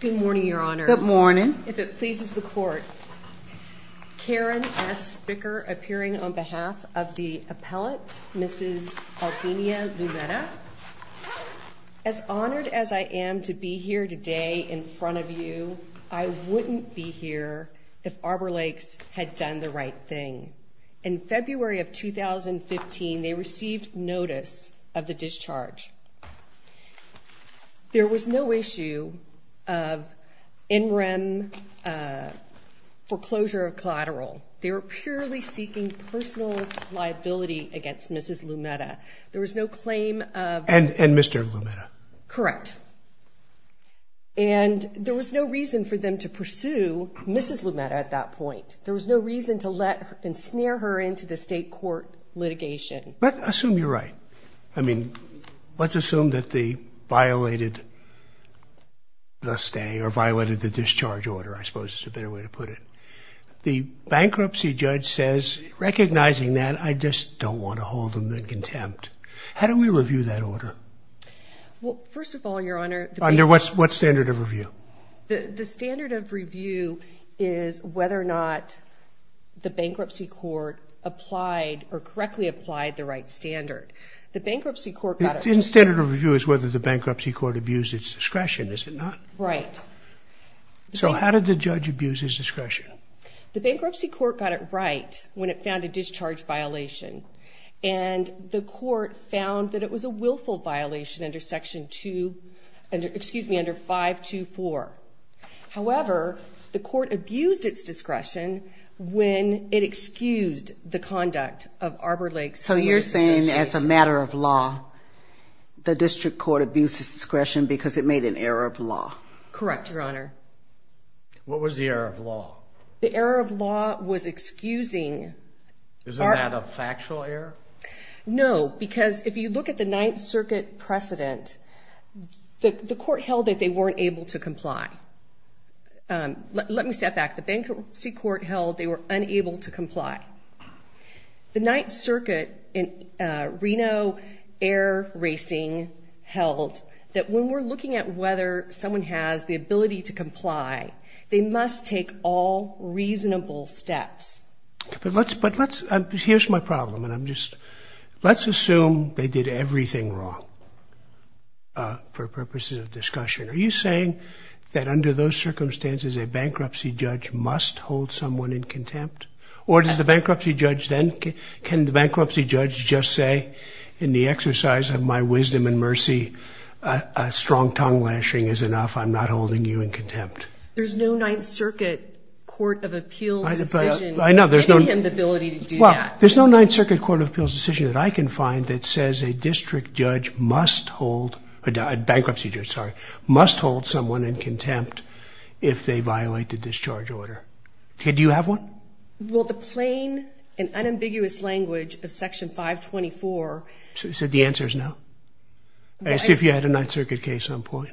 Good morning, Your Honor. Good morning. If it pleases the court, Karen S. Spicker appearing on behalf of the appellant, Mrs. Albina Lumetta. As honored as I am to be here today in front of you, I wouldn't be here if Arbor Lakes had done the right thing. In February of 2015, they received notice of the discharge. There was no issue of in rem foreclosure of collateral. They were purely seeking personal liability against Mrs. Lumetta. There was no claim of... And Mr. Lumetta. Correct. And there was no reason for them to pursue Mrs. Lumetta at that point. There was no reason to let and snare her into the state court litigation. But let's assume that they violated the stay or violated the discharge order, I suppose is a better way to put it. The bankruptcy judge says, recognizing that, I just don't want to hold them in contempt. How do we review that order? Well, first of all, Your Honor... Under what standard of review? The standard of review is whether or not the bankruptcy court applied or correctly applied the right standard. The standard of review is whether the bankruptcy court abused its discretion, is it not? Right. So how did the judge abuse his discretion? The bankruptcy court got it right when it found a discharge violation and the court found that it was a willful violation under Section 2, excuse me, under 524. However, the court abused its discretion when it excused the conduct of Arbor Lakes... So you're saying, as a matter of law, the district court abused its discretion because it made an error of law? Correct, Your Honor. What was the error of law? The error of law was excusing... Isn't that a factual error? No, because if you look at the Ninth Circuit precedent, the court held that they weren't able to comply. Let me step back. The bankruptcy court held they were unable to comply. The Ninth Circuit in Reno Air Racing held that when we're looking at whether someone has the ability to comply, they must take all reasonable steps. But let's, but let's... Here's my problem, and I'm just... Let's assume they did everything wrong for purposes of discussion. Are you saying that under those circumstances a bankruptcy judge must hold someone in contempt? Or does the bankruptcy judge then... Can the bankruptcy judge just say, in the exercise of my wisdom and mercy, a strong tongue lashing is enough, I'm not holding you in contempt? There's no Ninth Circuit Court of Appeals decision... I know, there's no... giving him the ability to do that. Well, there's no Ninth Circuit Court of Appeals decision that I can find that says a district judge must hold, a bankruptcy judge, sorry, must hold someone in contempt if they violate the discharge order. Okay, do you have one? Well, the plain and unambiguous language of Section 524... So the answer is no? As if you had a Ninth Circuit case on point.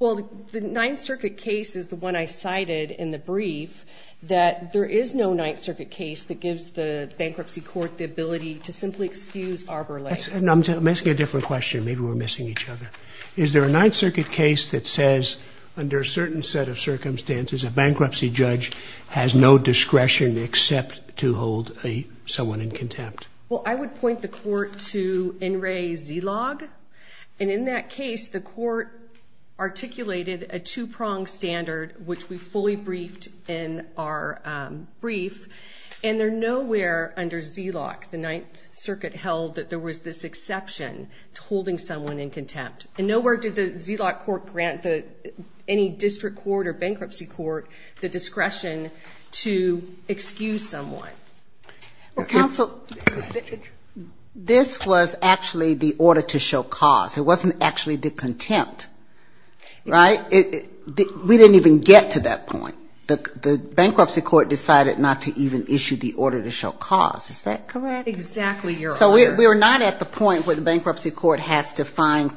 Well, the Ninth Circuit case is the one I cited in the brief, that there is no Ninth Circuit case that gives the bankruptcy court the ability to simply excuse Arbor Lane. I'm asking a different question, maybe we're missing each other. Is there a Ninth Circuit case that says, under a certain set of circumstances, a bankruptcy judge has no discretion except to hold someone in contempt? Well, I would point the court to NRA Zilog, and in that case the court articulated a two-pronged standard, which we fully briefed in our brief, and there nowhere under Zilog, the Ninth Circuit held that there was this exception to holding someone in contempt. And nowhere did the Zilog court grant any district court or bankruptcy court the discretion to excuse someone. Counsel, this was actually the order to show cause, it wasn't actually the contempt, right? We didn't even get to that point. The bankruptcy court decided not to even issue the order to show cause, is that correct? Exactly. So we were not at the point where the bankruptcy court has to not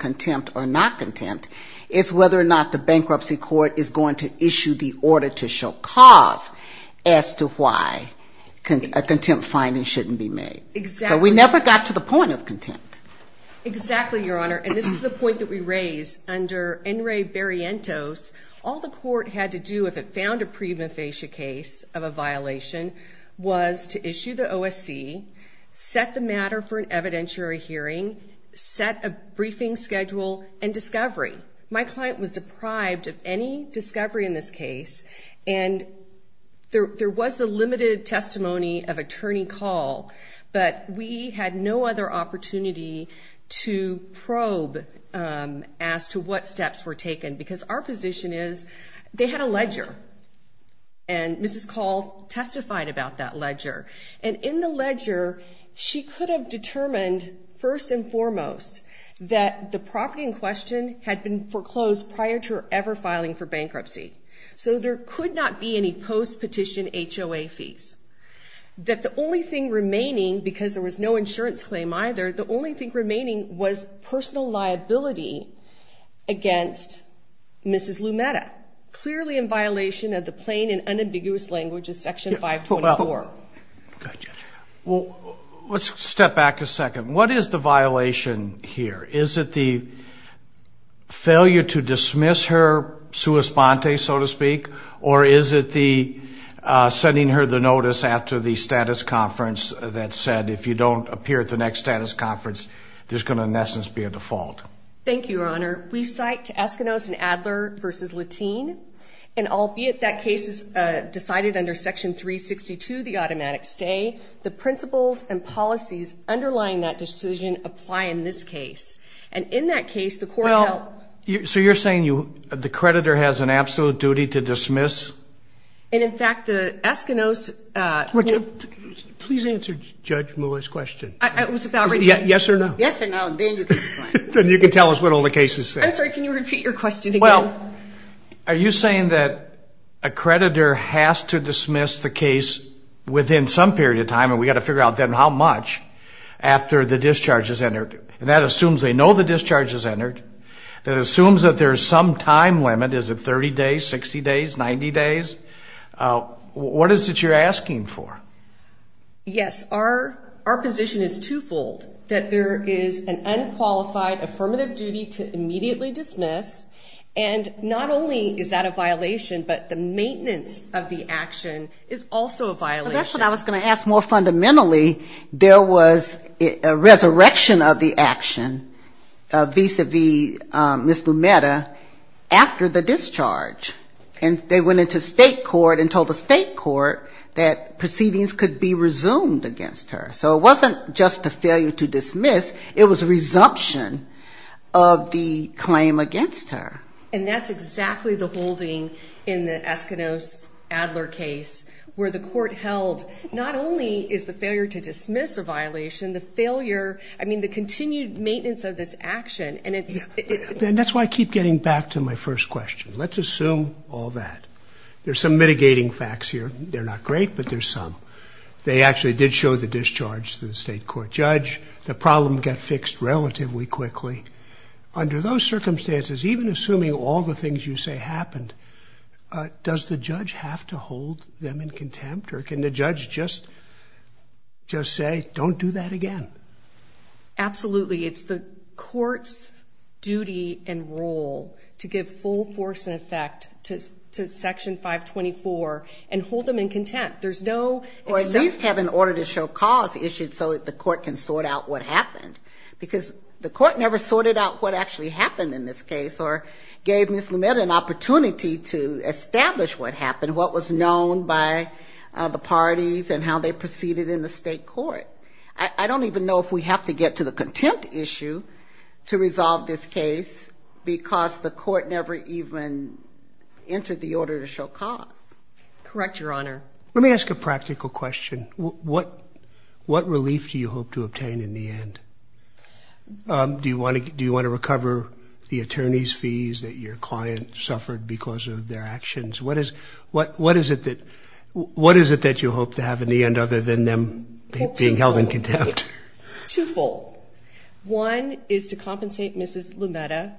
contempt, it's whether or not the bankruptcy court is going to issue the order to show cause as to why a contempt finding shouldn't be made. So we never got to the point of contempt. Exactly, Your Honor, and this is the point that we raise. Under NRA Barrientos, all the court had to do if it found a pre-mufascia case of a violation was to issue the OSC, set the matter for an evidentiary hearing, set a briefing schedule, and discovery. My client was deprived of any discovery in this case, and there was the limited testimony of attorney Call, but we had no other opportunity to probe as to what steps were taken, because our position is they had a ledger, and Mrs. Call testified about that ledger. And in the ledger, she could have determined first and foremost that the property in question had been foreclosed prior to her ever filing for bankruptcy. So there could not be any post-petition HOA fees. That the only thing remaining, because there was no insurance claim either, the only thing remaining was personal liability against Mrs. Lumetta, clearly in violation of the plain and unambiguous language of Section 524. Let's step back a second. What is the violation here? Is it the failure to dismiss her sua sponte, so to speak, or is it the sending her the notice after the status conference that said if you don't appear at the next status conference, there's going to in essence be a default? Thank you, Your Honor. We cite to Eskinos and Adler v. Latine, and albeit that case is decided under Section 362, the automatic stay, the principles and policies underlying that decision apply in this case. And in that case, the court held... So you're saying the creditor has an absolute duty to dismiss? And in fact, the Eskinos... Please answer Judge Are you saying that a creditor has to dismiss the case within some period of time, and we got to figure out then how much, after the discharge is entered? And that assumes they know the discharge has entered, that assumes that there's some time limit, is it 30 days, 60 days, 90 days? What is it you're asking for? Yes, our our position is twofold, that there is an unqualified affirmative duty to dismiss. And not only is that a violation, but the maintenance of the action is also a violation. That's what I was going to ask. More fundamentally, there was a resurrection of the action vis-a-vis Ms. Lumetta after the discharge. And they went into state court and told the state court that proceedings could be resumed against her. So it wasn't just a failure to dismiss, it was resumption of the claim against her. And that's exactly the holding in the Eskinos-Adler case, where the court held not only is the failure to dismiss a violation, the failure, I mean the continued maintenance of this action, and it's... And that's why I keep getting back to my first question, let's assume all that. There's some mitigating facts here, they're not great, but there's some. They actually did show the discharge to the state court judge, the problem got fixed relatively quickly. Under those circumstances, even assuming all the things you say happened, does the judge have to hold them in contempt? Or can the judge just say, don't do that again? Absolutely. It's the court's duty and role to give full force and effect to Section 524 and hold them in contempt. There's no... Or at least have an order to show cause issued so that the court can sort out what happened. Because the court never sorted out what actually happened in this case, or gave Ms. Lumetta an opportunity to establish what happened, what was known by the parties and how they proceeded in the state court. I don't even know if we have to get to the contempt issue to resolve this case, because the court never even entered the order to show cause. Correct, Your Honor. Let me ask a practical question. What relief do you hope to obtain in the end? Do you want to recover the attorney's fees that your client suffered because of their actions? What is it that you hope to have in the end, other than them being held in contempt? Twofold. One is to compensate Ms. Lumetta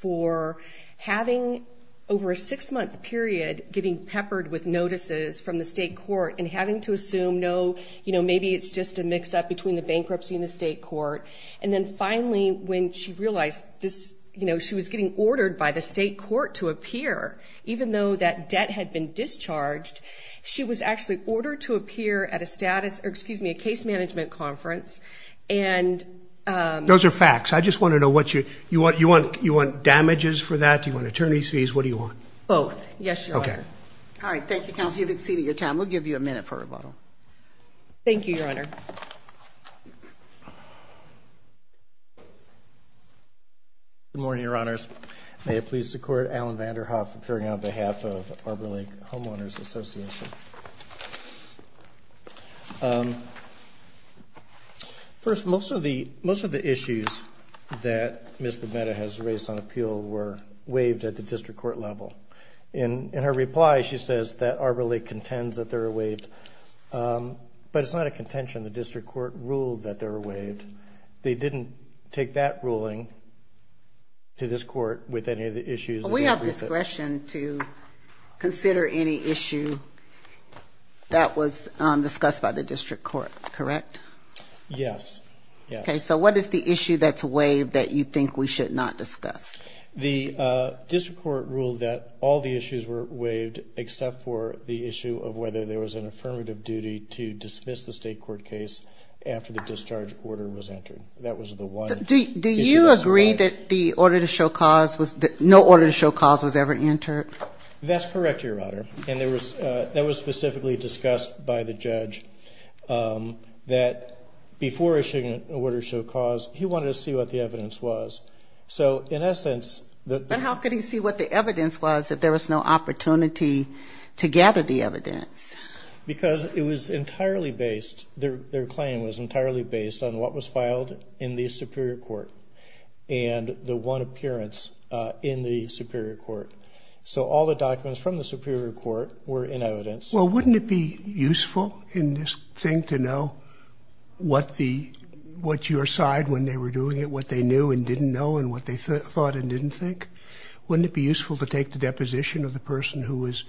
for having, over a six-month period, getting peppered with notices from the state court and having to assume no... Maybe it's just a mix-up between the bankruptcy and the state court. And then finally, when she realized she was getting ordered by the state court to appear, even though that debt had been discharged, she was actually ordered to appear at a case management conference and... Those are facts. I just want to know what you... You want damages for that? Do you want attorney's fees? What do you want? Both. Yes, Your Honor. Okay. All right. Thank you, counsel. You've exceeded your time. We'll give you a minute for rebuttal. Thank you, Your Honor. Good morning, Your Honors. May it please the Court, Alan Vanderhoef, appearing on behalf of Arbor Lake Homeowners Association. First, most of the issues that Ms. Lumetta has raised on appeal were waived at the district court level. In her reply, she says that Arbor Lake contends that they're waived. They didn't take that ruling to this court with any of the issues... We have discretion to consider any issue that was discussed by the district court, correct? Yes. Yes. Okay. So what is the issue that's waived that you think we should not discuss? The district court ruled that all the issues were waived except for the issue of whether there was an affirmative duty to dismiss the state court case after the discharge order was entered. That was the one... Do you agree that the order to show cause was... No order to show cause was ever entered? That's correct, Your Honor. And that was specifically discussed by the judge that before issuing an order to show cause, he wanted to see what the evidence was. So in essence... And how could he see what the evidence was if there was no opportunity to gather the evidence? It was entirely based, their claim was entirely based on what was filed in the superior court and the one appearance in the superior court. So all the documents from the superior court were in evidence. Well, wouldn't it be useful in this thing to know what your side, when they were doing it, what they knew and didn't know and what they thought and didn't think? Wouldn't it be useful to take the deposition of the person who was doing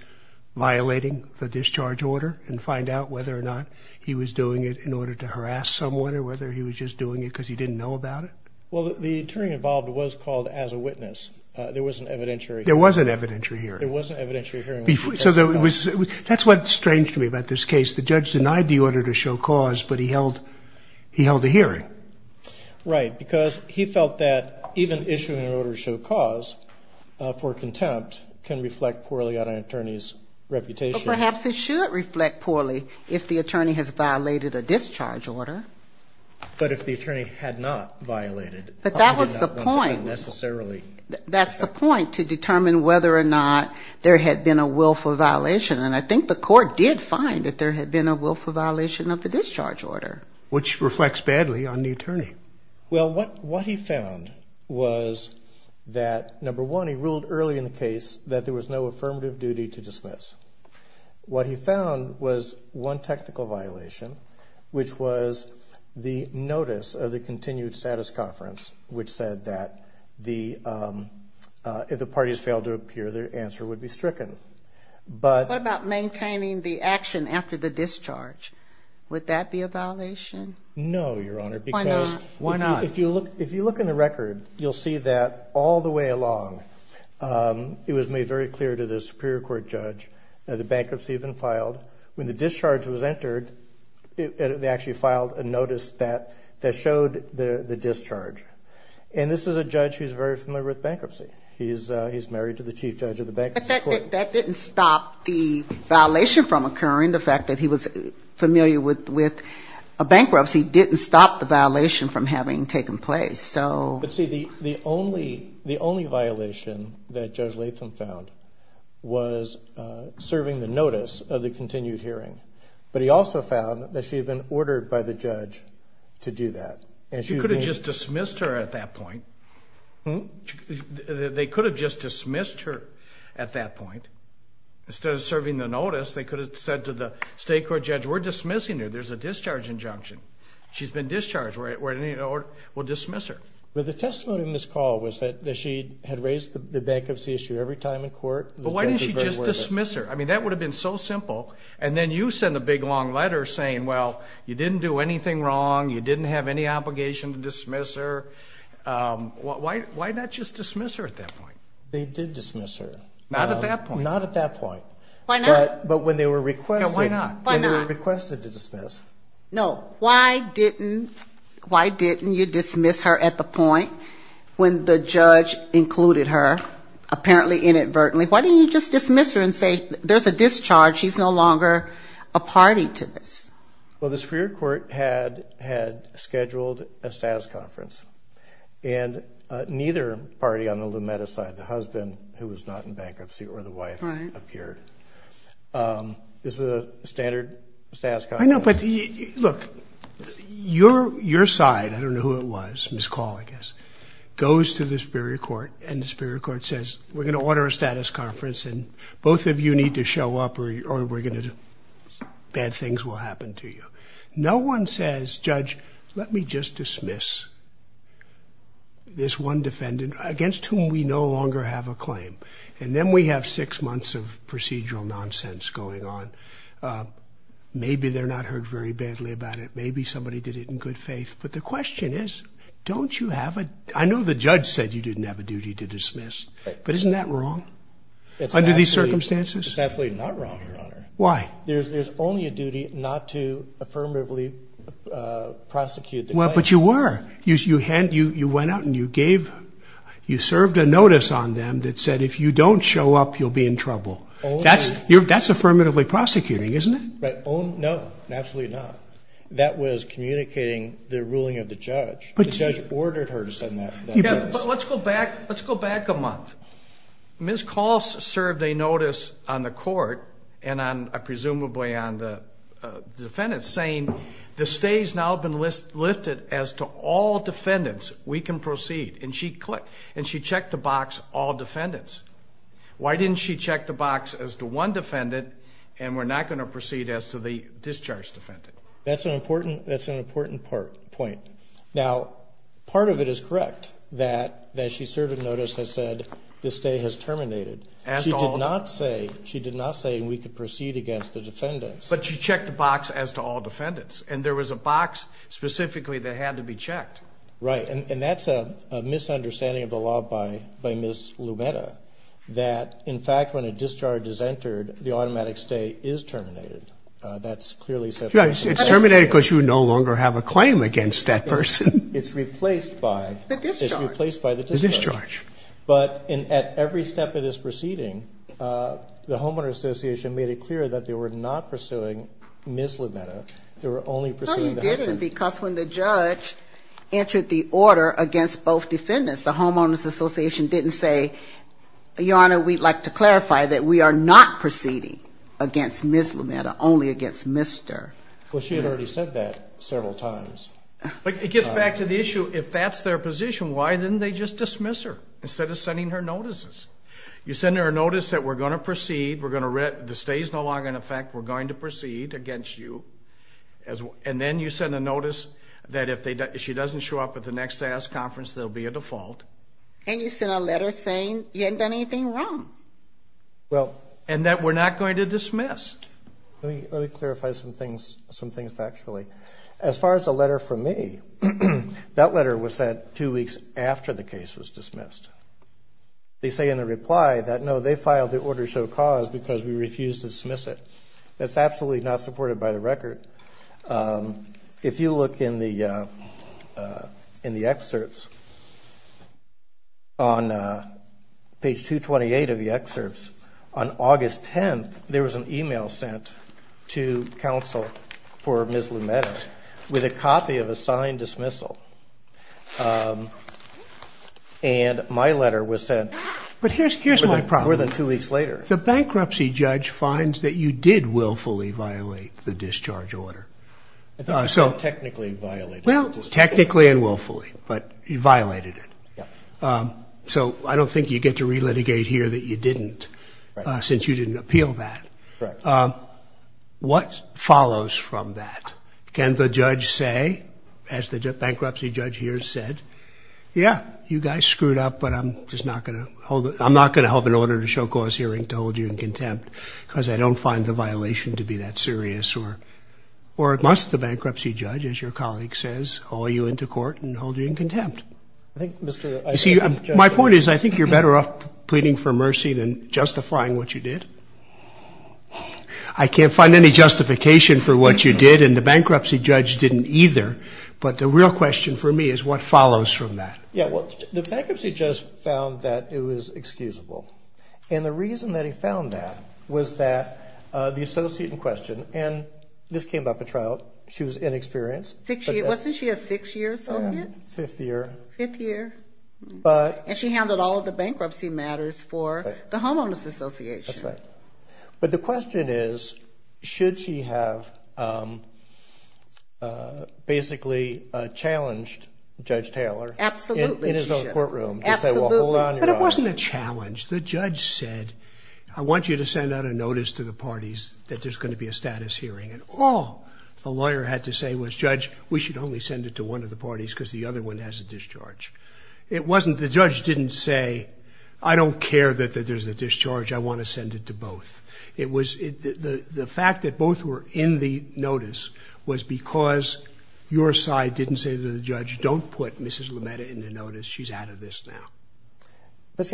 it and see whether or not he was doing it in order to harass someone or whether he was just doing it because he didn't know about it? Well, the attorney involved was called as a witness. There was an evidentiary... There was an evidentiary hearing. There was an evidentiary hearing. So that's what's strange to me about this case. The judge denied the order to show cause, but he held a hearing. Right, because he felt that even issuing an order to show cause for contempt can reflect poorly on an attorney's reputation. Perhaps it should reflect poorly if the attorney has violated a discharge order. But if the attorney had not violated... But that was the point. ...necessarily... That's the point, to determine whether or not there had been a willful violation. And I think the court did find that there had been a willful violation of the discharge order. Which reflects badly on the attorney. Well, what he found was that, number one, he ruled early in the case that there was no affirmative duty to make a willful violation, which was the notice of the continued status conference, which said that if the parties failed to appear, their answer would be stricken. But... What about maintaining the action after the discharge? Would that be a violation? No, Your Honor, because... Why not? Why not? If you look in the record, you'll see that all the way along, it was made very clear to the Superior Court judge that the bankruptcy had been filed. When the discharge was entered, they actually filed a notice that showed the discharge. And this is a judge who's very familiar with bankruptcy. He's married to the chief judge of the bankruptcy court. But that didn't stop the violation from occurring. The fact that he was familiar with a bankruptcy didn't stop the violation from having taken place. So... But see, the only violation that Judge Latham found was serving the notice of the continued hearing. But he also found that she had been ordered by the judge to do that. And she... You could have just dismissed her at that point. Hm? They could have just dismissed her at that point. Instead of serving the notice, they could have said to the state court judge, we're dismissing her. There's a discharge injunction. She's been discharged. We're... We'll dismiss her. But the testimony in this call was that she had raised the bankruptcy issue every time in the past. And she had written a long letter saying, well, you didn't do anything wrong. You didn't have any obligation to dismiss her. Why not just dismiss her at that point? They did dismiss her. Not at that point. Not at that point. Why not? But when they were requested... Why not? When they were requested to dismiss... No. Why didn't... Why didn't you dismiss her at the point when the judge included her, apparently inadvertently? Why didn't you just dismiss her and say, there's a discharge. She's no longer a party to this? Well, the Superior Court had... Had scheduled a status conference. And neither party on the Lumetta side, the husband who was not in bankruptcy or the wife... Right. ...appeared. This is a standard status conference. I know, but you... Look. Your... Your side, I don't know who it was, Ms. Call, I guess, goes to the Superior Court and the Superior Court has a status conference. And both of you need to show up or we're going to... Bad things will happen to you. No one says, Judge, let me just dismiss this one defendant against whom we no longer have a claim. And then we have six months of procedural nonsense going on. Maybe they're not heard very badly about it. Maybe somebody did it in good faith. But the question is, don't you have a... I know the judge said you didn't have a duty to prosecute. Under these circumstances? It's absolutely not wrong, Your Honor. Why? There's only a duty not to affirmatively prosecute the claim. Well, but you were. You went out and you gave... You served a notice on them that said, if you don't show up, you'll be in trouble. Only... That's affirmatively prosecuting, isn't it? Right. Only... No, absolutely not. That was communicating the ruling of the judge. The judge ordered her to send that notice. Yeah, but let's go back. Let's go back a month. Ms. Kall served a notice on the court and on... Presumably on the defendants saying, the stay's now been lifted as to all defendants, we can proceed. And she clicked... And she checked the box all defendants. Why didn't she check the box as to one defendant and we're not going to proceed as to the discharged defendant? That's an important... That's an important part... Point. Now, part of it is correct that she served a notice that said, the stay has terminated. As to all... She did not say... She did not say we could proceed against the defendants. But she checked the box as to all defendants. And there was a box specifically that had to be checked. Right. And that's a misunderstanding of the law by Ms. Lumetta that, in fact, when a discharge is entered, the automatic stay is terminated. That's clearly... It's terminated because you no longer have a claim against that person. It's replaced by... The discharge. It's replaced by the discharge. But at every step of this proceeding, the Homeowners Association made it clear that they were not pursuing Ms. Lumetta. They were only pursuing... No, they didn't because when the judge entered the order against both defendants, the Homeowners Association didn't say, Your Honor, we'd like to clarify that we are not proceeding against Ms. Lumetta, only against Mr... Well, she had already said that several times. It gets back to the issue. If that's their position, why didn't they just dismiss her instead of sending her notices? You send her a notice that we're going to proceed. We're going to... The stay is no longer in effect. We're going to proceed against you. And then you send a notice that if she doesn't show up at the next conference, there'll be a default. And you sent a letter saying you hadn't done anything wrong. Well... And that we're not going to dismiss. Let me clarify some things, some things factually. As far as a letter from me, that letter was sent two weeks after the case was dismissed. They say in the reply that no, they filed the order to show cause because we refused to dismiss it. That's absolutely not supported by the excerpts. On page 228 of the excerpts, on August 10th, there was an email sent to counsel for Ms. Lumetta with a copy of a signed dismissal. And my letter was sent... But here's my problem. ...more than two weeks later. The bankruptcy judge finds that you did willfully violate the discharge order. So... I thought you said technically violated the discharge order. Well, technically and willfully. Well, technically you violated it. So I don't think you get to relitigate here that you didn't since you didn't appeal that. What follows from that? Can the judge say, as the bankruptcy judge here said, yeah, you guys screwed up, but I'm just not going to hold... I'm not going to hold an order to show cause hearing to hold you in contempt because I don't find the bankruptcy judge to hold you in contempt. My point is I think you're better off pleading for mercy than justifying what you did. I can't find any justification for what you did and the bankruptcy judge didn't either. But the real question for me is what follows from that? Yeah, well, the bankruptcy judge found that it was excusable. And the reason that he found that was that the associate in question, and this was a six-year associate? Fifth year. Fifth year. And she handled all of the bankruptcy matters for the Homeowners Association. That's right. But the question is, should she have basically challenged Judge Taylor in his own courtroom to say, well, hold on, you're wrong. But it wasn't a challenge. The judge said, I want you to send out a notice to the parties that there's going to be a status hearing. And all the parties said, no, I want you to send it to one of the parties because the other one has a discharge. It wasn't the judge didn't say, I don't care that there's a discharge. I want to send it to both. The fact that both were in the notice was because your side didn't say to the judge, don't put Mrs. Lumetta in the notice. She's out of this now.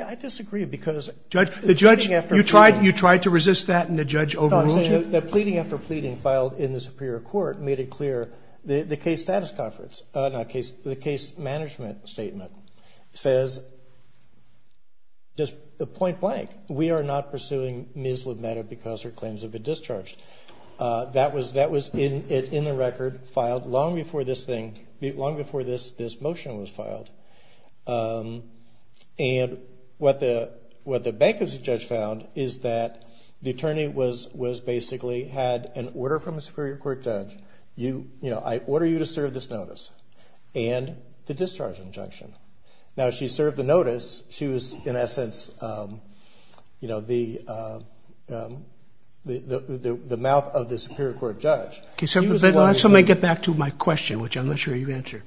I disagree because... You tried to resist that and the judge overruled you? The pleading after pleading filed in the Superior Court made it clear, the case management statement says, just point blank, we are not pursuing Ms. Lumetta because her claims have been discharged. That was in the record, filed long before this motion was filed. And what the bankruptcy judge found is that pursue Ms. Lumetta because her claims have been discharged. She basically had an order from a Superior Court judge, I order you to serve this notice. And the discharge injunction. Now she served the notice, she was in essence the mouth of the Superior Court judge. Let me get back to my question, which I'm not sure you answered.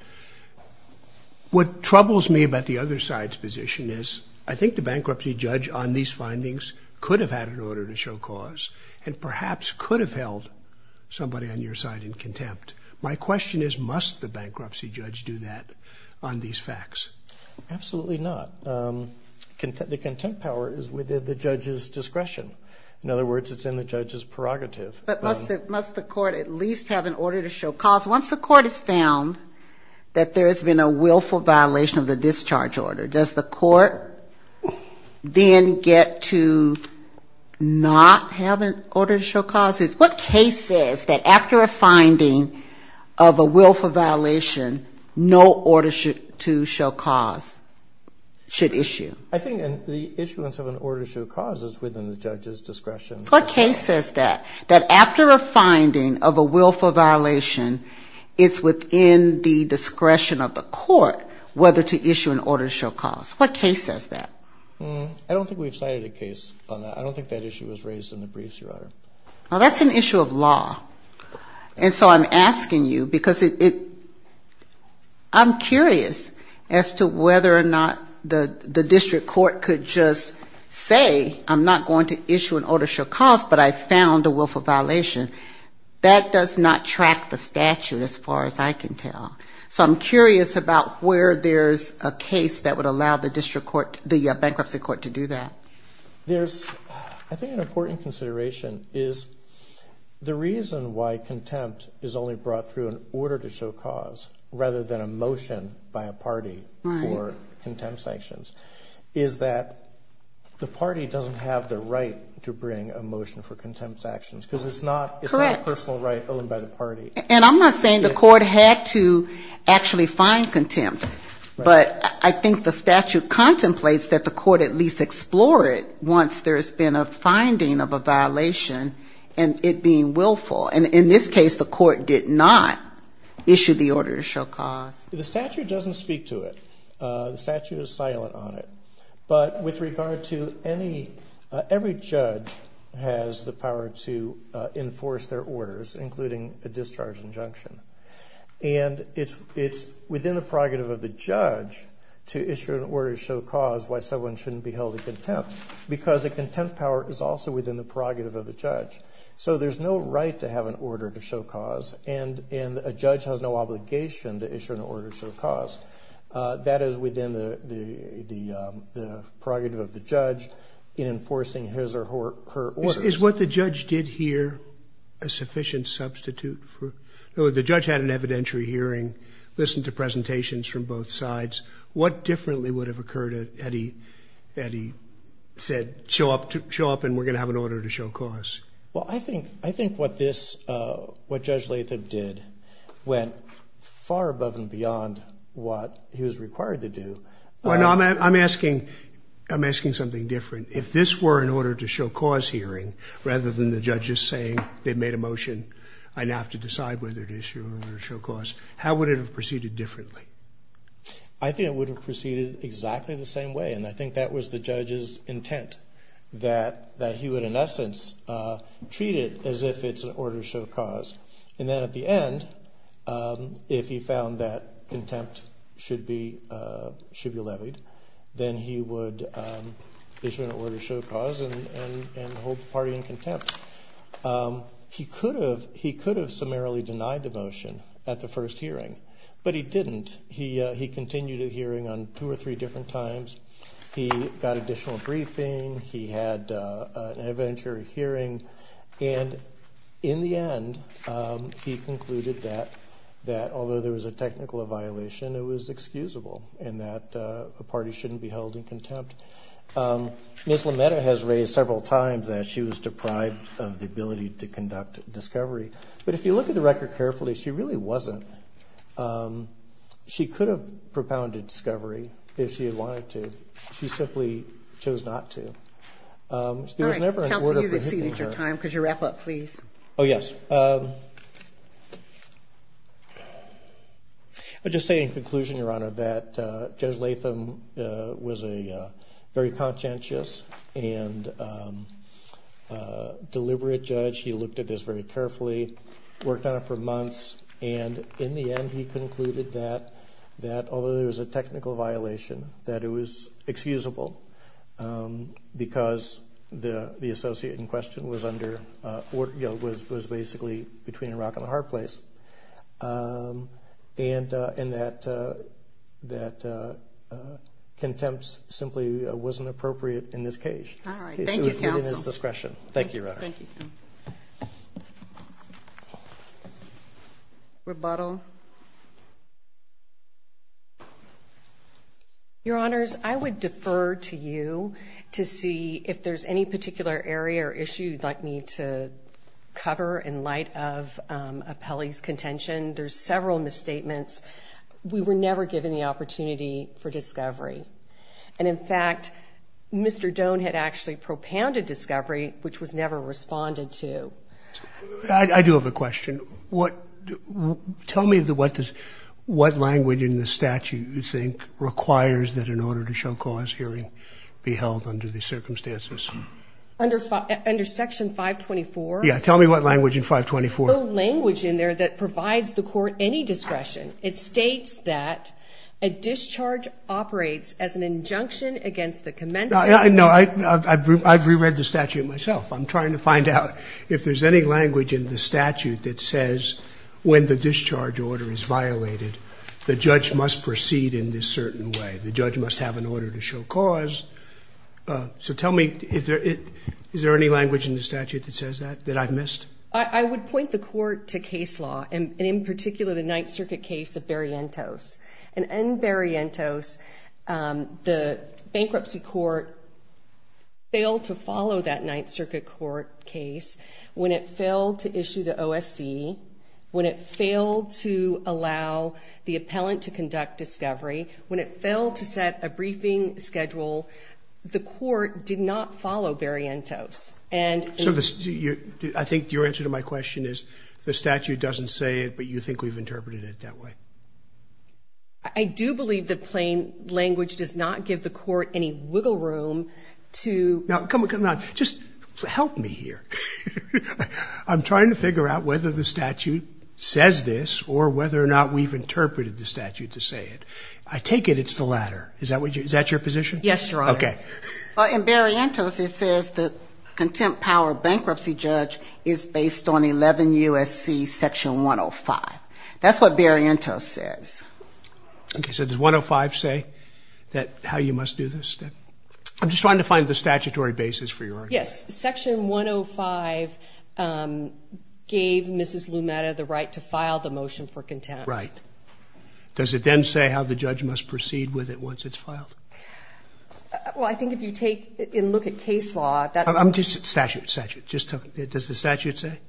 What troubles me about the other side's position is I think the bankruptcy judge on these findings could have had an order to show cause and perhaps could have held somebody on your side in contempt. My question is, must the bankruptcy judge do that on these facts? Absolutely not. The contempt power is within the judge's discretion. In other words, it's in the judge's prerogative. But must the court at least have an order to show cause? Once the court has found that there has been a willful violation of the discharge order, does the court not have an order to show cause? What case says that after a finding of a willful violation, no order to show cause should issue? I think the issuance of an order to show cause is within the judge's discretion. What case says that? That after a finding of a willful violation, it's within the discretion of the court whether to issue an order to show cause? What case says that? I don't think we've cited a case on that. I don't think that issue was raised in the briefs, Your Honor. Well, that's an issue of law. And so I'm asking you, because I'm curious as to whether or not the district court could just say, I'm not going to issue an order to show cause, but I found a willful violation. That does not track the statute as far as I can tell. So I'm curious about where there's a case that would allow the bankruptcy court to do that. I think an important consideration is the reason why contempt is only brought through an order to show cause, rather than a motion by a party for contempt sanctions, is that the party doesn't have the right to bring a motion for contempt sanctions, because it's not a personal right owned by the party. And I'm not saying the court had to actually find contempt, but I think the statute contemplates that the court has to explore it once there's been a finding of a violation, and it being willful. And in this case, the court did not issue the order to show cause. The statute doesn't speak to it. The statute is silent on it. But with regard to any, every judge has the power to enforce their orders, including a discharge injunction. And it's within the prerogative of the judge to issue an order to show cause why someone shouldn't be held to contempt, because the contempt power is also within the prerogative of the judge. So there's no right to have an order to show cause, and a judge has no obligation to issue an order to show cause. That is within the prerogative of the judge in enforcing his or her orders. Is what the judge did here a sufficient substitute for, the judge had an evidentiary hearing, listened to presentations from both sides. What differently would have occurred if Eddie said show up and we're going to have an order to show cause? Well, I think what this, what Judge Latham did went far above and beyond what he was required to do. I'm asking something different. If this were an order to show cause hearing, rather than the judges saying they made a motion, I now have to decide whether to issue an order to show cause. Would it have proceeded differently? I think it would have proceeded exactly the same way, and I think that was the judge's intent, that he would in essence treat it as if it's an order to show cause. And then at the end, if he found that contempt should be levied, then he would issue an order to show cause and hold the party in contempt. He could have summarily denied the motion at the first hearing, but he didn't. He continued a hearing on two or three different times. He got additional briefing. He had an evidentiary hearing, and in the end, he concluded that although there was a technical violation, it was excusable, and that the party shouldn't be held in contempt. Ms. LaMetta has raised several times that she was deprived of the ability to conduct discovery, but if you look at the record carefully, she really wasn't. She could have propounded discovery if she had wanted to. She simply chose not to. There was never an order prohibiting her. Counsel, you've exceeded your time. Could you wrap up, please? Oh, yes. I'll just say in conclusion, Your Honor, that Judge Latham was a very conscientious and deliberate man. He was in contempt for months, and in the end, he concluded that although there was a technical violation, that it was excusable because the associate in question was basically between a rock and a hard place, and that contempt simply wasn't appropriate in this case. All right. Thank you, counsel. Thank you, Your Honor. Rebuttal? Your Honors, I would defer to you to see if there's any particular area or issue you'd like me to cover in light of Appelli's contention. There's several misstatements. We were never given the opportunity for discovery, and in fact, Mr. Doan had actually propounded discovery, which was never responded to. I do have a question. Tell me what language in the statute you think requires that an order to show cause hearing be held under these circumstances. Under Section 524? Yeah. Tell me what language in 524. There's no language in there that provides the court any discretion. It states that a discharge operates as an order to show cause. Is there any language in the statute that says when the discharge order is violated, the judge must proceed in this certain way? The judge must have an order to show cause? So tell me, is there any language in the statute that says that, that I've missed? I would point the court to case law, and in particular the Ninth Circuit case of Berrientos. In Berrientos, the bankruptcy court failed to follow that Ninth Circuit court case when it failed to issue the OSC, when it failed to allow the appellant to conduct discovery, when it failed to set a briefing schedule. The court did not follow Berrientos. I think your answer to my question is the statute doesn't say it, but you think we've interpreted it that way. I do believe that plain language does not give the court any wiggle room to... Now, come on, come on. Just help me here. I'm trying to figure out whether the statute says this, or whether or not we've interpreted the statute to say it. I take it it's the latter. Is that your position? Yes, Your Honor. In Berrientos it says the contempt power bankruptcy judge is based on 11 U.S.C. section 105. That's what Berrientos says. Okay, so does 105 say how you must do this? I'm just trying to find the statutory basis for your argument. Yes, section 105 gave Mrs. Lumetta the right to file the motion for contempt. Right. Does it then say how the judge must proceed with it once it's filed? Well, I think if you take and look at case law, that's... I'm just... Statute, statute. Does the statute say?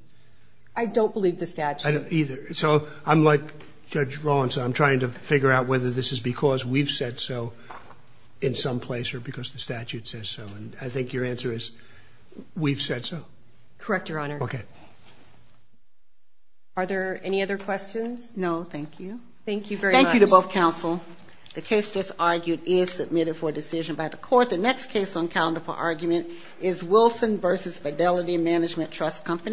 I don't believe the statute. I don't either. So I'm like Judge Rollins. I'm trying to figure out whether this is because we've said so in some place, or because the statute says so. I think your answer is we've said so. Correct, Your Honor. Okay. Are there any other questions? No, thank you. Thank you very much. Thank you to both counsel. The case just argued is submitted for decision by the court. The next case on calendar for argument is Wilson v. Fidelity Management Trust Company.